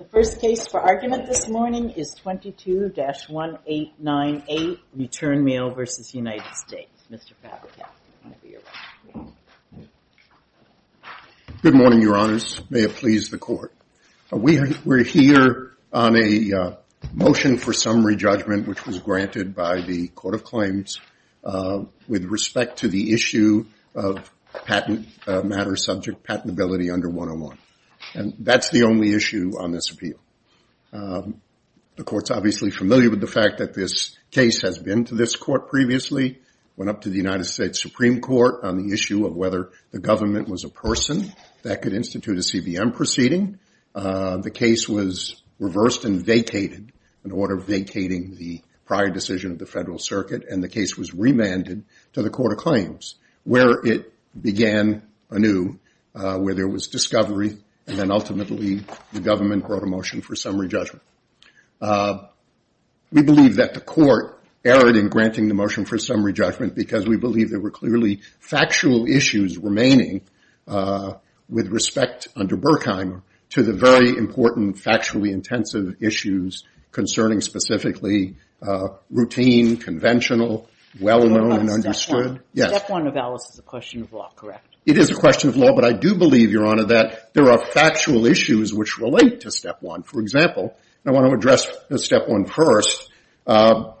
The first case for argument this morning is 22-1898, Return Mail, v. United States. Mr. Fabricant, I'm going to be your witness. Good morning, Your Honors. May it please the Court. We're here on a motion for summary judgment which was granted by the Court of Claims with respect to the issue of patent matter subject patentability under 101. And that's the only issue on this appeal. The Court's obviously familiar with the fact that this case has been to this Court previously, went up to the United States Supreme Court on the issue of whether the government was a person that could institute a CBM proceeding. The case was reversed and vacated in order of vacating the prior decision of the Federal Circuit, and the case was remanded to the Court of Claims where it began anew, where there was discovery, and then ultimately the government brought a motion for summary judgment. We believe that the Court erred in granting the motion for summary judgment because we believe there were clearly factual issues remaining with respect under Burkheim to the very important factually intensive issues concerning specifically routine, conventional, well-known and understood. Step one of Alice is a question of law, correct? It is a question of law, but I do believe, Your Honor, that there are factual issues which relate to step one. For example, I want to address step one first. Claims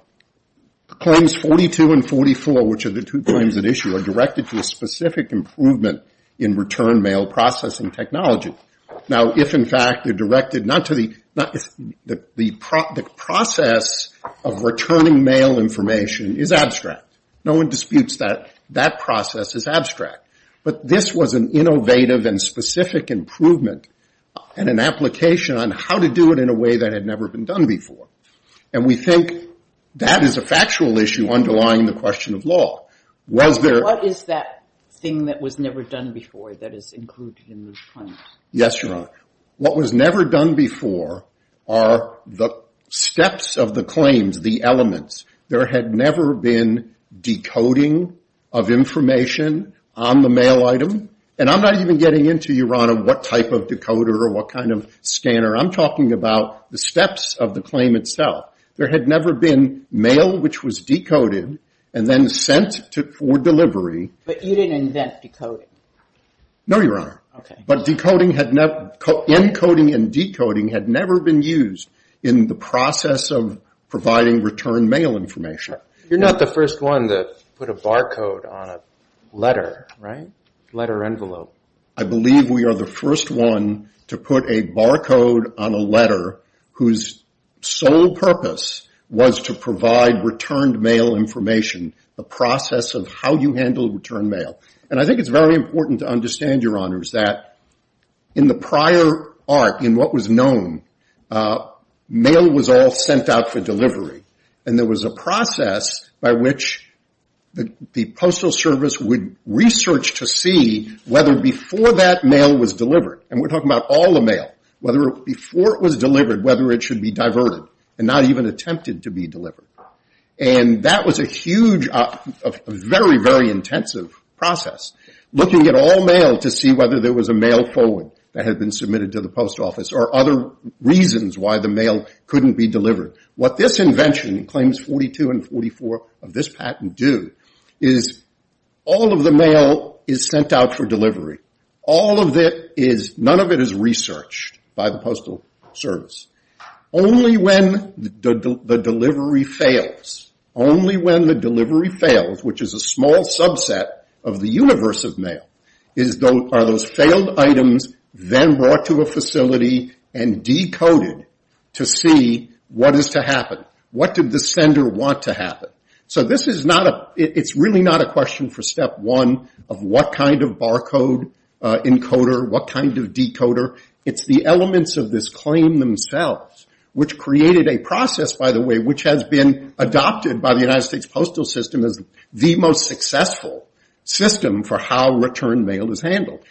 42 and 44, which are the two claims at issue, are directed to a specific improvement in return mail processing technology. Now, if in fact they're directed not to the process of returning mail information is abstract. No one disputes that that process is abstract. But this was an innovative and specific improvement and an application on how to do it in a way that had never been done before. And we think that is a factual issue underlying the question of law. Was there — What is that thing that was never done before that is included in the claim? Yes, Your Honor. What was never done before are the steps of the claims, the elements. There had never been decoding of information on the mail item. And I'm not even getting into, Your Honor, what type of decoder or what kind of scanner. I'm talking about the steps of the claim itself. There had never been mail which was decoded and then sent for delivery. But you didn't invent decoding? No, Your Honor. Okay. Encoding and decoding had never been used in the process of providing return mail information. You're not the first one to put a barcode on a letter, right? Letter envelope. I believe we are the first one to put a barcode on a letter whose sole purpose was to provide returned mail information, the process of how you handle returned mail. And I think it's very important to understand, Your Honors, that in the prior arc, in what was known, mail was all sent out for delivery. And there was a process by which the Postal Service would research to see whether before that mail was delivered, and we're talking about all the mail, whether before it was delivered, whether it should be diverted and not even attempted to be delivered. And that was a huge, very, very intensive process, looking at all mail to see whether there was a mail forward that had been submitted to the Post Office or other reasons why the mail couldn't be delivered. What this invention, Claims 42 and 44 of this patent do, is all of the mail is sent out for delivery. All of it is, none of it is researched by the Postal Service. Only when the delivery fails, only when the delivery fails, which is a small subset of the universe of mail, are those failed items then brought to a facility and decoded to see what is to happen. What did the sender want to happen? So this is not a, it's really not a question for step one of what kind of barcode encoder, what kind of decoder. It's the elements of this claim themselves, which created a process, by the way, which has been adopted by the United States Postal System as the most successful system for how return mail is handled.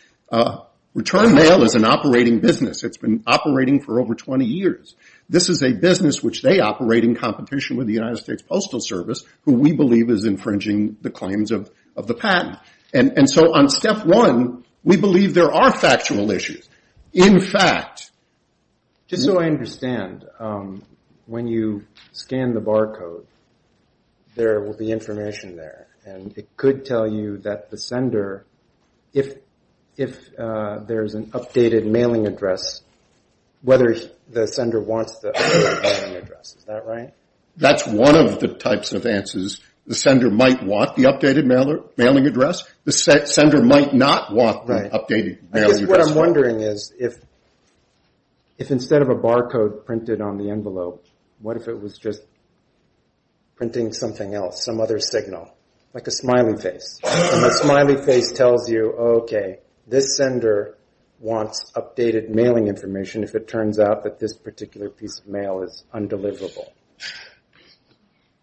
Return mail is an operating business. It's been operating for over 20 years. This is a business which they operate in competition with the United States Postal Service, who we believe is infringing the claims of the patent. And so on step one, we believe there are factual issues. In fact... Just so I understand, when you scan the barcode, there will be information there, and it could tell you that the sender, if there's an updated mailing address, whether the sender wants the updated mailing address. Is that right? That's one of the types of answers. The sender might want the updated mailing address. The sender might not want the updated mailing address. I guess what I'm wondering is, if instead of a barcode printed on the envelope, what if it was just printing something else, some other signal? Like a smiling face. And the smiling face tells you, okay, this sender wants updated mailing information if it turns out that this particular piece of mail is undeliverable.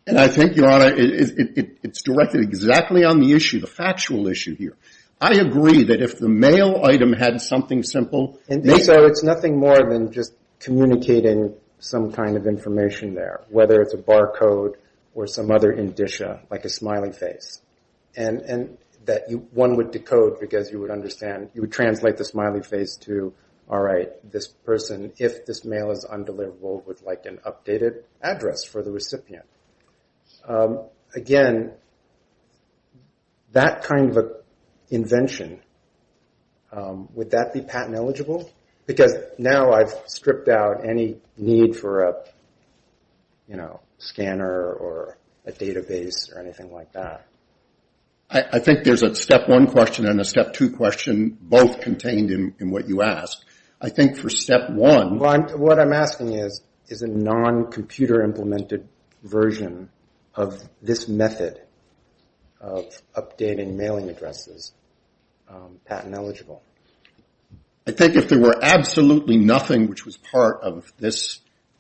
And I think, Your Honor, it's directed exactly on the issue, the factual issue here. I agree that if the mail item had something simple... And so it's nothing more than just communicating some kind of information there, whether it's a barcode or some other indicia, like a smiling face, and that one would decode because you would understand. You would translate the smiling face to, all right, this person, if this mail is undeliverable, would like an updated address for the recipient. Again, that kind of an invention, would that be patent eligible? Because now I've stripped out any need for a scanner or a database or anything like that. I think there's a step one question and a step two question, both contained in what you asked. I think for step one... What I'm asking is, is a non-computer implemented version of this method of updating mailing addresses patent eligible? I think if there were absolutely nothing which was part of this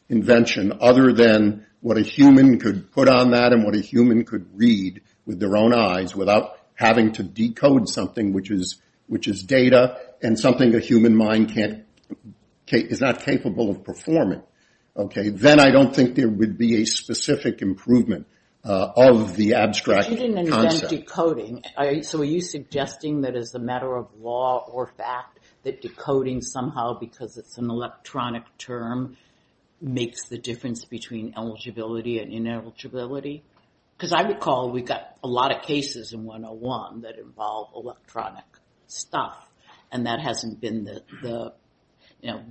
invention other than what a human could put on that and what a human could read with their own eyes without having to decode something which is data and something a human mind is not capable of performing, then I don't think there would be a specific improvement of the abstract concept. You didn't invent decoding. So are you suggesting that as a matter of law or fact that decoding somehow because it's an electronic term makes the difference between eligibility and ineligibility? Because I recall we got a lot of cases in 101 that involve electronic stuff, and that hasn't been the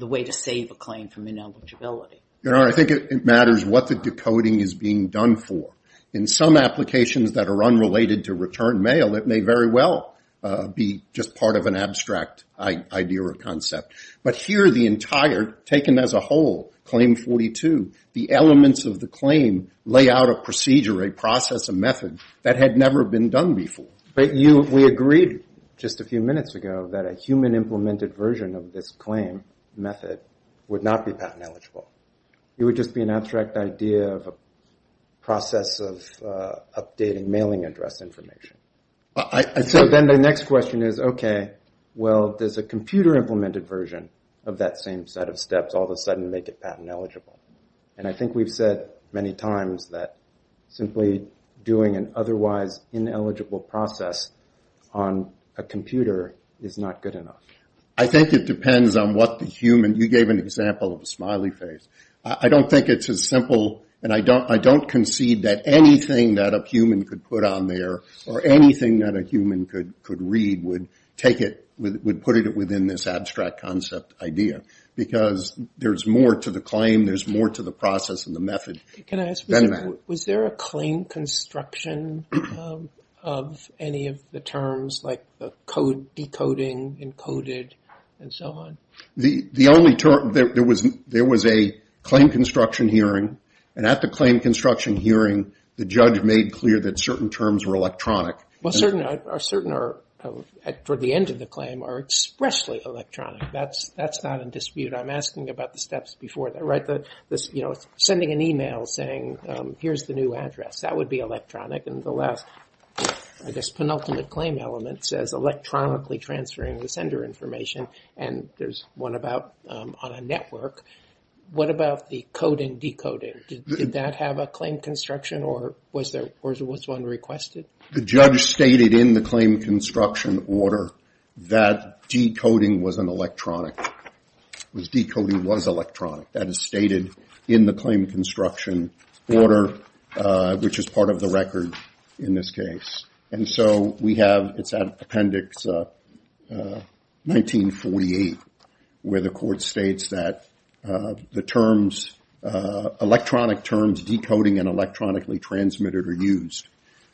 way to save a claim from ineligibility. I think it matters what the decoding is being done for. In some applications that are unrelated to return mail, it may very well be just part of an abstract idea or concept. But here the entire, taken as a whole, Claim 42, the elements of the claim lay out a procedure, a process, a method that had never been done before. But we agreed just a few minutes ago that a human-implemented version of this claim method would not be patent eligible. It would just be an abstract idea of a process of updating mailing address information. So then the next question is, okay, well, does a computer-implemented version of that same set of steps all of a sudden make it patent eligible? And I think we've said many times that simply doing an otherwise ineligible process on a computer is not good enough. I think it depends on what the human... You gave an example of a smiley face. I don't think it's as simple, and I don't concede that anything that a human could put on there or anything that a human could read would put it within this abstract concept idea, because there's more to the claim, there's more to the process and the method. Can I ask, was there a claim construction of any of the terms, like the decoding, encoded, and so on? The only term... There was a claim construction hearing, and at the claim construction hearing, the judge made clear that certain terms were electronic. Well, certain are, for the end of the claim, are expressly electronic. That's not in dispute. I'm asking about the steps before that, right? Sending an email saying, here's the new address, that would be electronic. And the last, I guess, penultimate claim element says electronically transferring the sender information, and there's one about on a network. What about the coding, decoding? Did that have a claim construction, or was one requested? The judge stated in the claim construction order that decoding was an electronic. It was decoding was electronic. That is stated in the claim construction order, which is part of the record in this case. And so we have, it's at Appendix 1948, where the court states that the terms, electronic terms, decoding and electronically transmitted are used.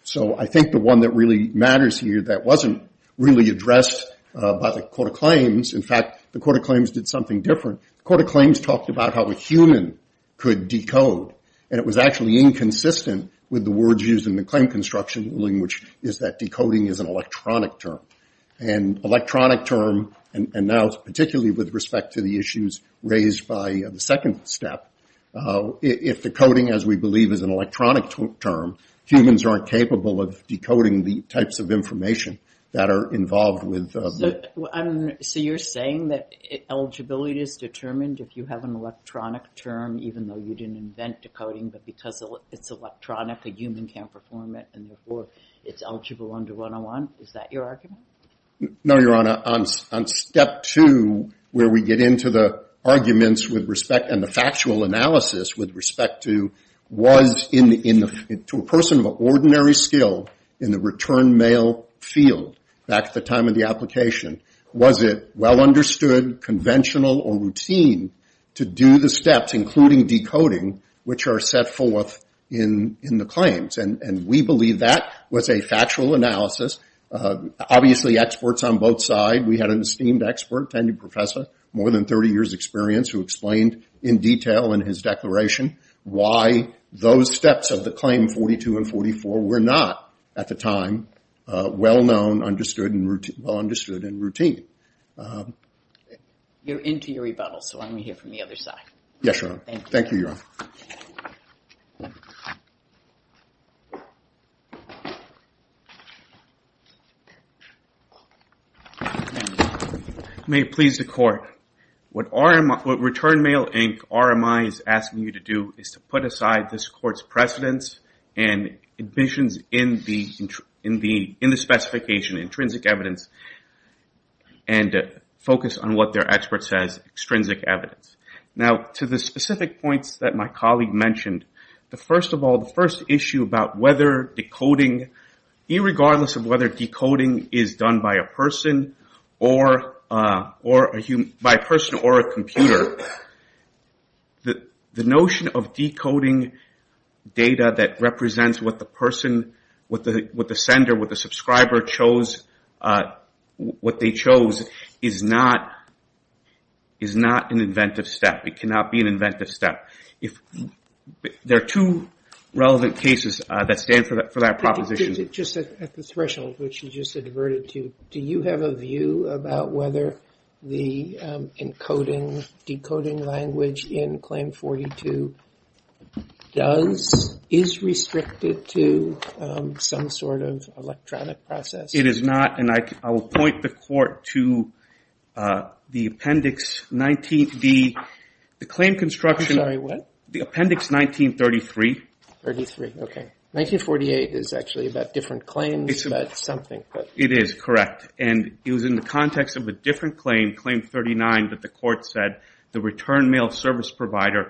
So I think the one that really matters here that wasn't really addressed by the court of claims, in fact, the court of claims did something different. The court of claims talked about how a human could decode, and it was actually inconsistent with the words used in the claim construction, which is that decoding is an electronic term. And electronic term, and now particularly with respect to the issues raised by the second step, if decoding, as we believe, is an electronic term, humans aren't capable of decoding the types of information that are involved with... So you're saying that eligibility is determined if you have an electronic term, even though you didn't invent decoding, but because it's electronic, a human can't perform it, and therefore it's eligible under 101? Is that your argument? No, Your Honor. On step two, where we get into the arguments with respect, and the factual analysis with respect to, was to a person of ordinary skill in the return mail field, back at the time of the application, was it well understood, conventional, or routine to do the steps, including decoding, which are set forth in the claims? And we believe that was a factual analysis. Obviously, experts on both sides, we had an esteemed expert, tenured professor, more than 30 years' experience, who explained in detail in his declaration why those steps of the claim 42 and 44 were not, at the time, well known, understood, and routine. You're into your rebuttal, so let me hear from the other side. Yes, Your Honor. Thank you. Thank you, Your Honor. May it please the Court. What Return Mail, Inc., RMI is asking you to do is to put aside this Court's precedence and ambitions in the specification, intrinsic evidence, and focus on what their expert says, extrinsic evidence. Now, to the specific points that my colleague mentioned, first of all, the first issue about whether decoding, irregardless of whether decoding is done by a person or a computer, the notion of decoding data that represents what the person, what the sender, what the subscriber chose, what they chose, is not an inventive step. It cannot be an inventive step. There are two relevant cases that stand for that proposition. Just at the threshold which you just adverted to, do you have a view about whether the encoding decoding language in Claim 42 does, is restricted to some sort of electronic process? It is not. And I will point the Court to the appendix 19, the claim construction. I'm sorry, what? The appendix 1933. 1933, okay. 1948 is actually about different claims, but something. It is, correct. And it was in the context of a different claim, Claim 39, that the Court said the return mail service provider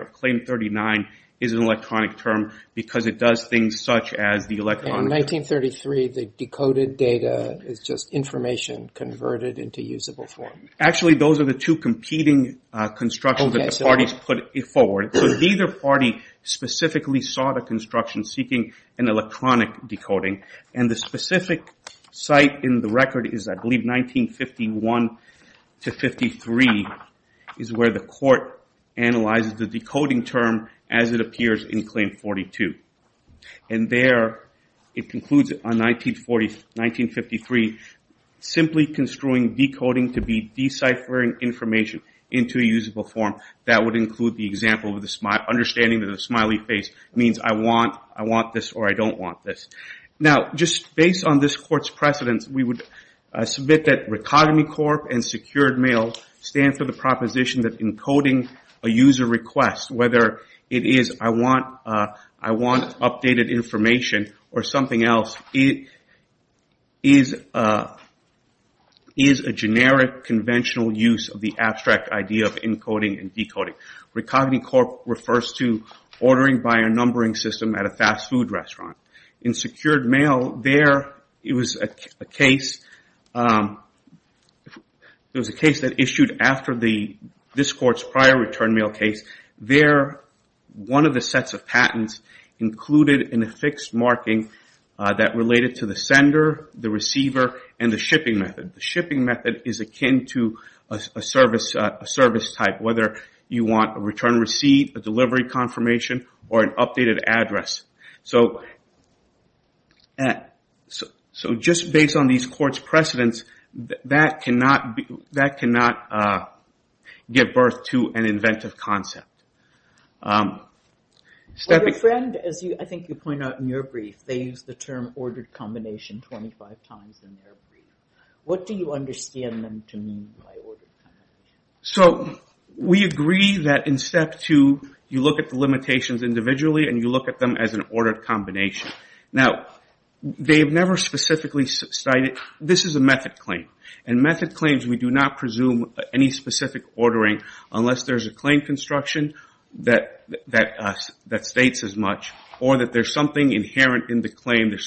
of Claim 39 is an electronic term because it does things such as the electronic. In 1933, the decoded data is just information converted into usable form. Actually, those are the two competing constructions that the parties put forward. So neither party specifically sought a construction seeking an electronic decoding. And the specific site in the record is, I believe 1951 to 1953, is where the Court analyzes the decoding term as it appears in Claim 42. And there it concludes on 1943, simply construing decoding to be deciphering information into a usable form. That would include the example of the understanding of the smiley face. It means I want this or I don't want this. Now, just based on this Court's precedence, we would submit that Recogny Corp. and secured mail stand for the proposition that encoding a user request, whether it is I want updated information or something else, is a generic conventional use of the abstract idea of encoding and decoding. Recogny Corp. refers to ordering by a numbering system at a fast food restaurant. In secured mail, there was a case that issued after this Court's prior return mail case. There, one of the sets of patents included in a fixed marking that related to the sender, the receiver, and the shipping method. The shipping method is akin to a service type, whether you want a return receipt, a delivery confirmation, or an updated address. So, just based on these Courts' precedence, that cannot give birth to an inventive concept. Your friend, as I think you point out in your brief, they use the term ordered combination 25 times in their brief. What do you understand them to mean by ordered combination? So, we agree that in Step 2, you look at the limitations individually and you look at them as an ordered combination. Now, they've never specifically cited, this is a method claim. In method claims, we do not presume any specific ordering unless there's a claim construction that states as much, or that there's something inherent in the claim, there's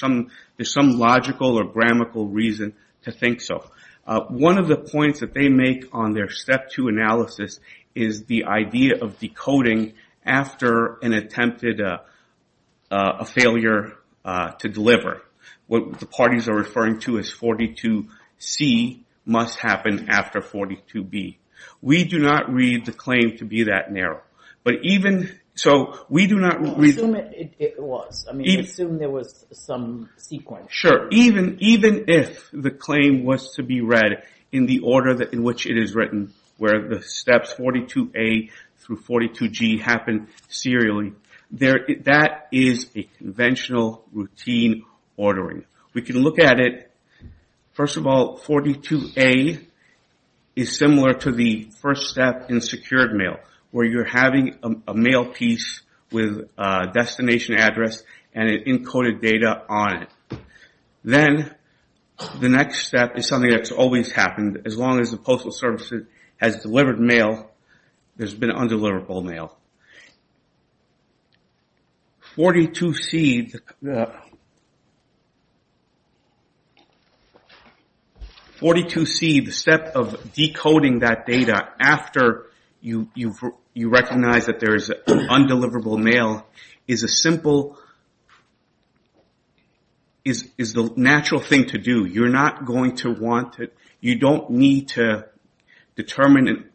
some logical or grammatical reason to think so. One of the points that they make on their Step 2 analysis is the idea of decoding after an attempted, a failure to deliver. What the parties are referring to as 42C must happen after 42B. We do not read the claim to be that narrow. So, we do not read... Well, assume it was. I mean, assume there was some sequence. Sure, even if the claim was to be read in the order in which it is written, where the steps 42A through 42G happen serially, that is a conventional routine ordering. We can look at it. First of all, 42A is similar to the first step in secured mail where you're having a mail piece with a destination address and it encoded data on it. Then, the next step is something that's always happened as long as the Postal Service has delivered mail, there's been undeliverable mail. 42C, the step of decoding that data after you recognize that there is undeliverable mail is a simple... is the natural thing to do. You're not going to want it... You don't need to determine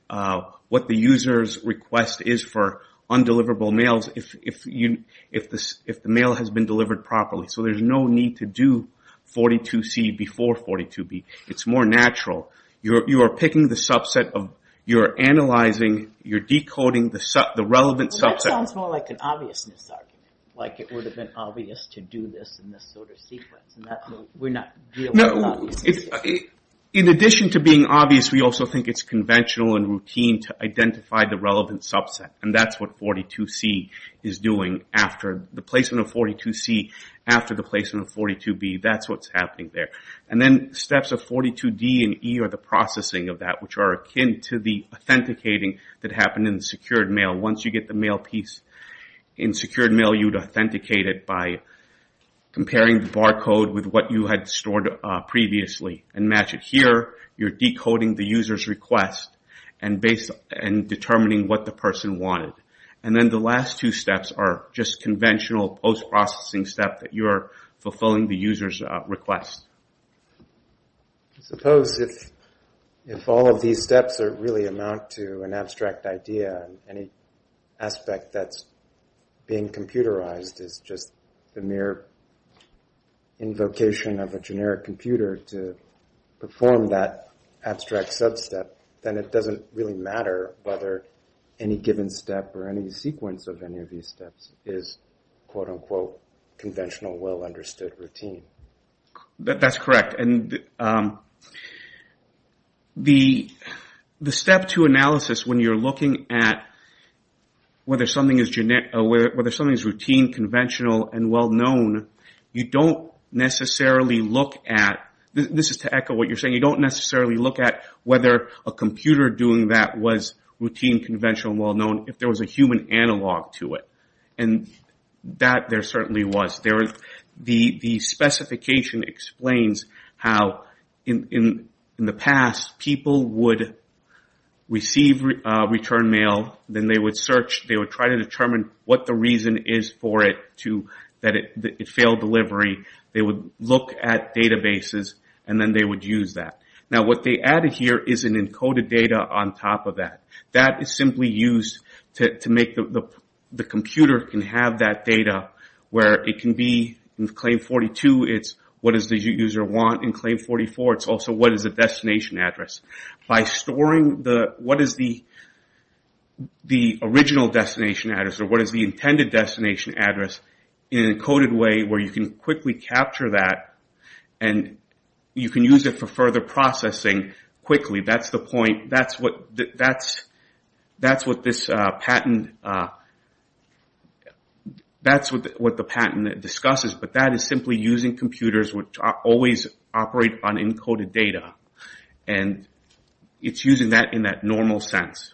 what the user's request is for undeliverable mail if the mail has been delivered properly. So, there's no need to do 42C before 42B. It's more natural. You are picking the subset of... You're analyzing, you're decoding the relevant subset. Well, that sounds more like an obviousness argument, like it would have been obvious to do this in this sort of sequence. In addition to being obvious, we also think it's conventional and routine to identify the relevant subset. That's what 42C is doing after the placement of 42C, after the placement of 42B. That's what's happening there. Then, steps of 42D and E are the processing of that, which are akin to the authenticating that happened in secured mail. Once you get the mail piece in secured mail, we allow you to authenticate it by comparing the barcode with what you had stored previously and match it here. You're decoding the user's request and determining what the person wanted. And then the last two steps are just conventional post-processing steps that you're fulfilling the user's request. I suppose if all of these steps really amount to an abstract idea, and any aspect that's being computerized is just the mere invocation of a generic computer to perform that abstract sub-step, then it doesn't really matter whether any given step or any sequence of any of these steps is quote-unquote conventional, well-understood routine. That's correct. And the step two analysis, when you're looking at whether something is routine, conventional, and well-known, you don't necessarily look at... This is to echo what you're saying. You don't necessarily look at whether a computer doing that was routine, conventional, and well-known if there was a human analog to it. And that there certainly was. The specification explains how in the past people would receive return mail, then they would search, they would try to determine what the reason is for it, that it failed delivery. They would look at databases, and then they would use that. Now what they added here is an encoded data on top of that. That is simply used to make the computer can have that data where it can be in claim 42, it's what does the user want in claim 44. It's also what is the destination address. By storing what is the original destination address or what is the intended destination address in an encoded way where you can quickly capture that and you can use it for further processing quickly. That's what the patent discusses, but that is simply using computers which always operate on encoded data. And it's using that in that normal sense.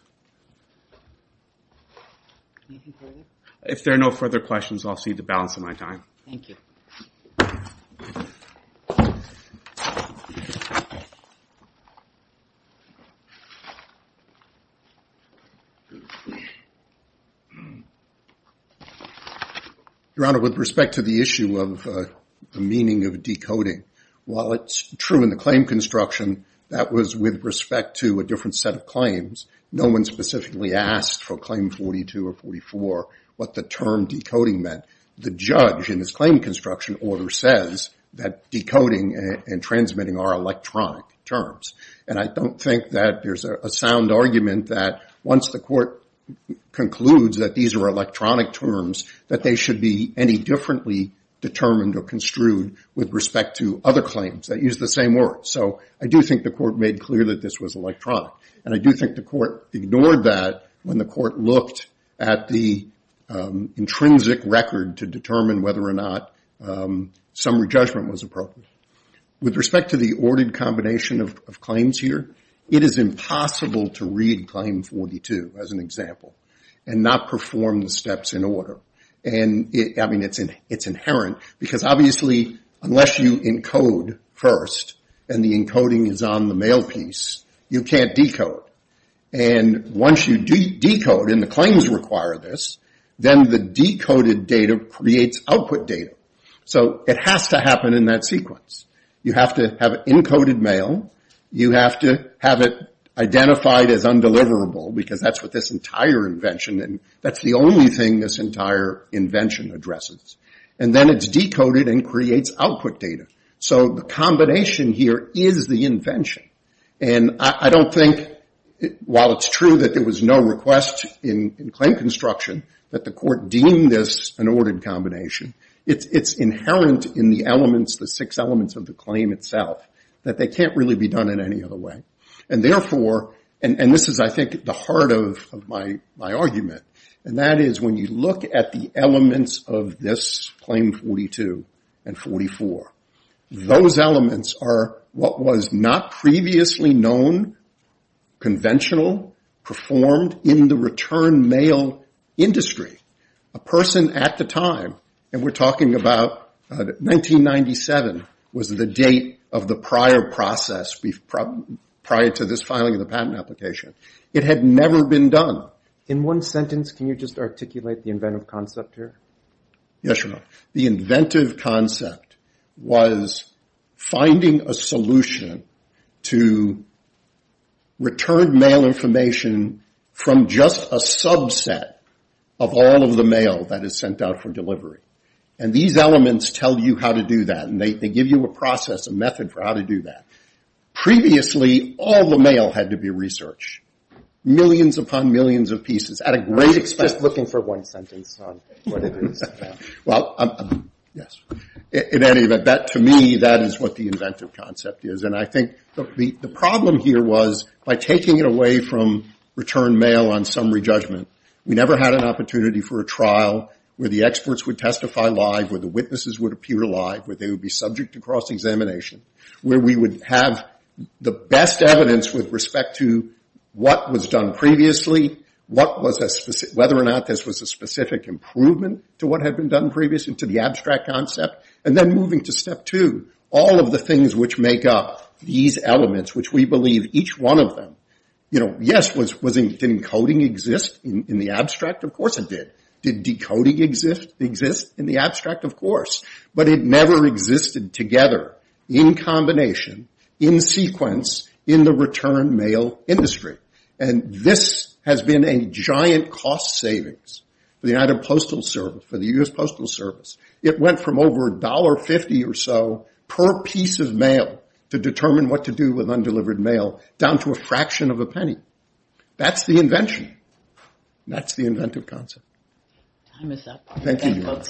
If there are no further questions, I'll cede the balance of my time. Your Honor, with respect to the issue of the meaning of decoding, while it's true in the claim construction that was with respect to a different set of claims, no one specifically asked for claim 42 or 44 what the term decoding meant. The judge in his claim construction order says that decoding and transmitting are electronic terms, and I don't think that's true. I do think that there's a sound argument that once the court concludes that these are electronic terms, that they should be any differently determined or construed with respect to other claims that use the same word. So I do think the court made clear that this was electronic, and I do think the court ignored that when the court looked at the intrinsic record to determine whether or not summary judgment was appropriate. With respect to the ordered combination of claims here, it is impossible to read claim 42, as an example, and not perform the steps in order. I mean, it's inherent, because obviously unless you encode first, and the encoding is on the mail piece, you can't decode. And once you decode, and the claims require this, then the decoded data creates output data. So it has to happen in that sequence. You have to have encoded mail. You have to have it identified as undeliverable, because that's what this entire invention, and that's the only thing this entire invention addresses. And then it's decoded and creates output data. So the combination here is the invention. And I don't think, while it's true that there was no request in claim construction, that the court deemed this an ordered combination, it's inherent in the elements, the six elements of the claim itself, that they can't really be done in any other way. And therefore, and this is, I think, the heart of my argument, and that is when you look at the elements of this claim 42 and 44, those elements are what was not previously known, conventional, performed in the return mail industry. A person at the time, and we're talking about 1997, was the date of the prior process, prior to this filing of the patent application. It had never been done. In one sentence, can you just articulate the inventive concept here? Yes, Your Honor. The inventive concept was finding a solution to return mail information from just a subset of all of the mail that is sent out for delivery. And these elements tell you how to do that, and they give you a process, a method for how to do that. Previously, all the mail had to be researched, millions upon millions of pieces at a great expense. Just looking for one sentence on what it is. Well, yes. In any event, to me, that is what the inventive concept is. And I think the problem here was, by taking it away from return mail on summary judgment, we never had an opportunity for a trial where the experts would testify live, where the witnesses would appear live, where they would be subject to cross-examination, where we would have the best evidence with respect to what was done previously, whether or not this was a specific improvement to what had been done previously, to the abstract concept. And then moving to step two, all of the things which make up these elements, which we believe each one of them, yes, did encoding exist in the abstract? Of course it did. Did decoding exist in the abstract? Of course. But it never existed together in combination, in sequence, in the return mail industry. And this has been a giant cost savings for the United Postal Service, for the U.S. Postal Service. It went from over $1.50 or so per piece of mail to determine what to do with undelivered mail, down to a fraction of a penny. That's the invention. That's the inventive concept. Time is up. Thank you.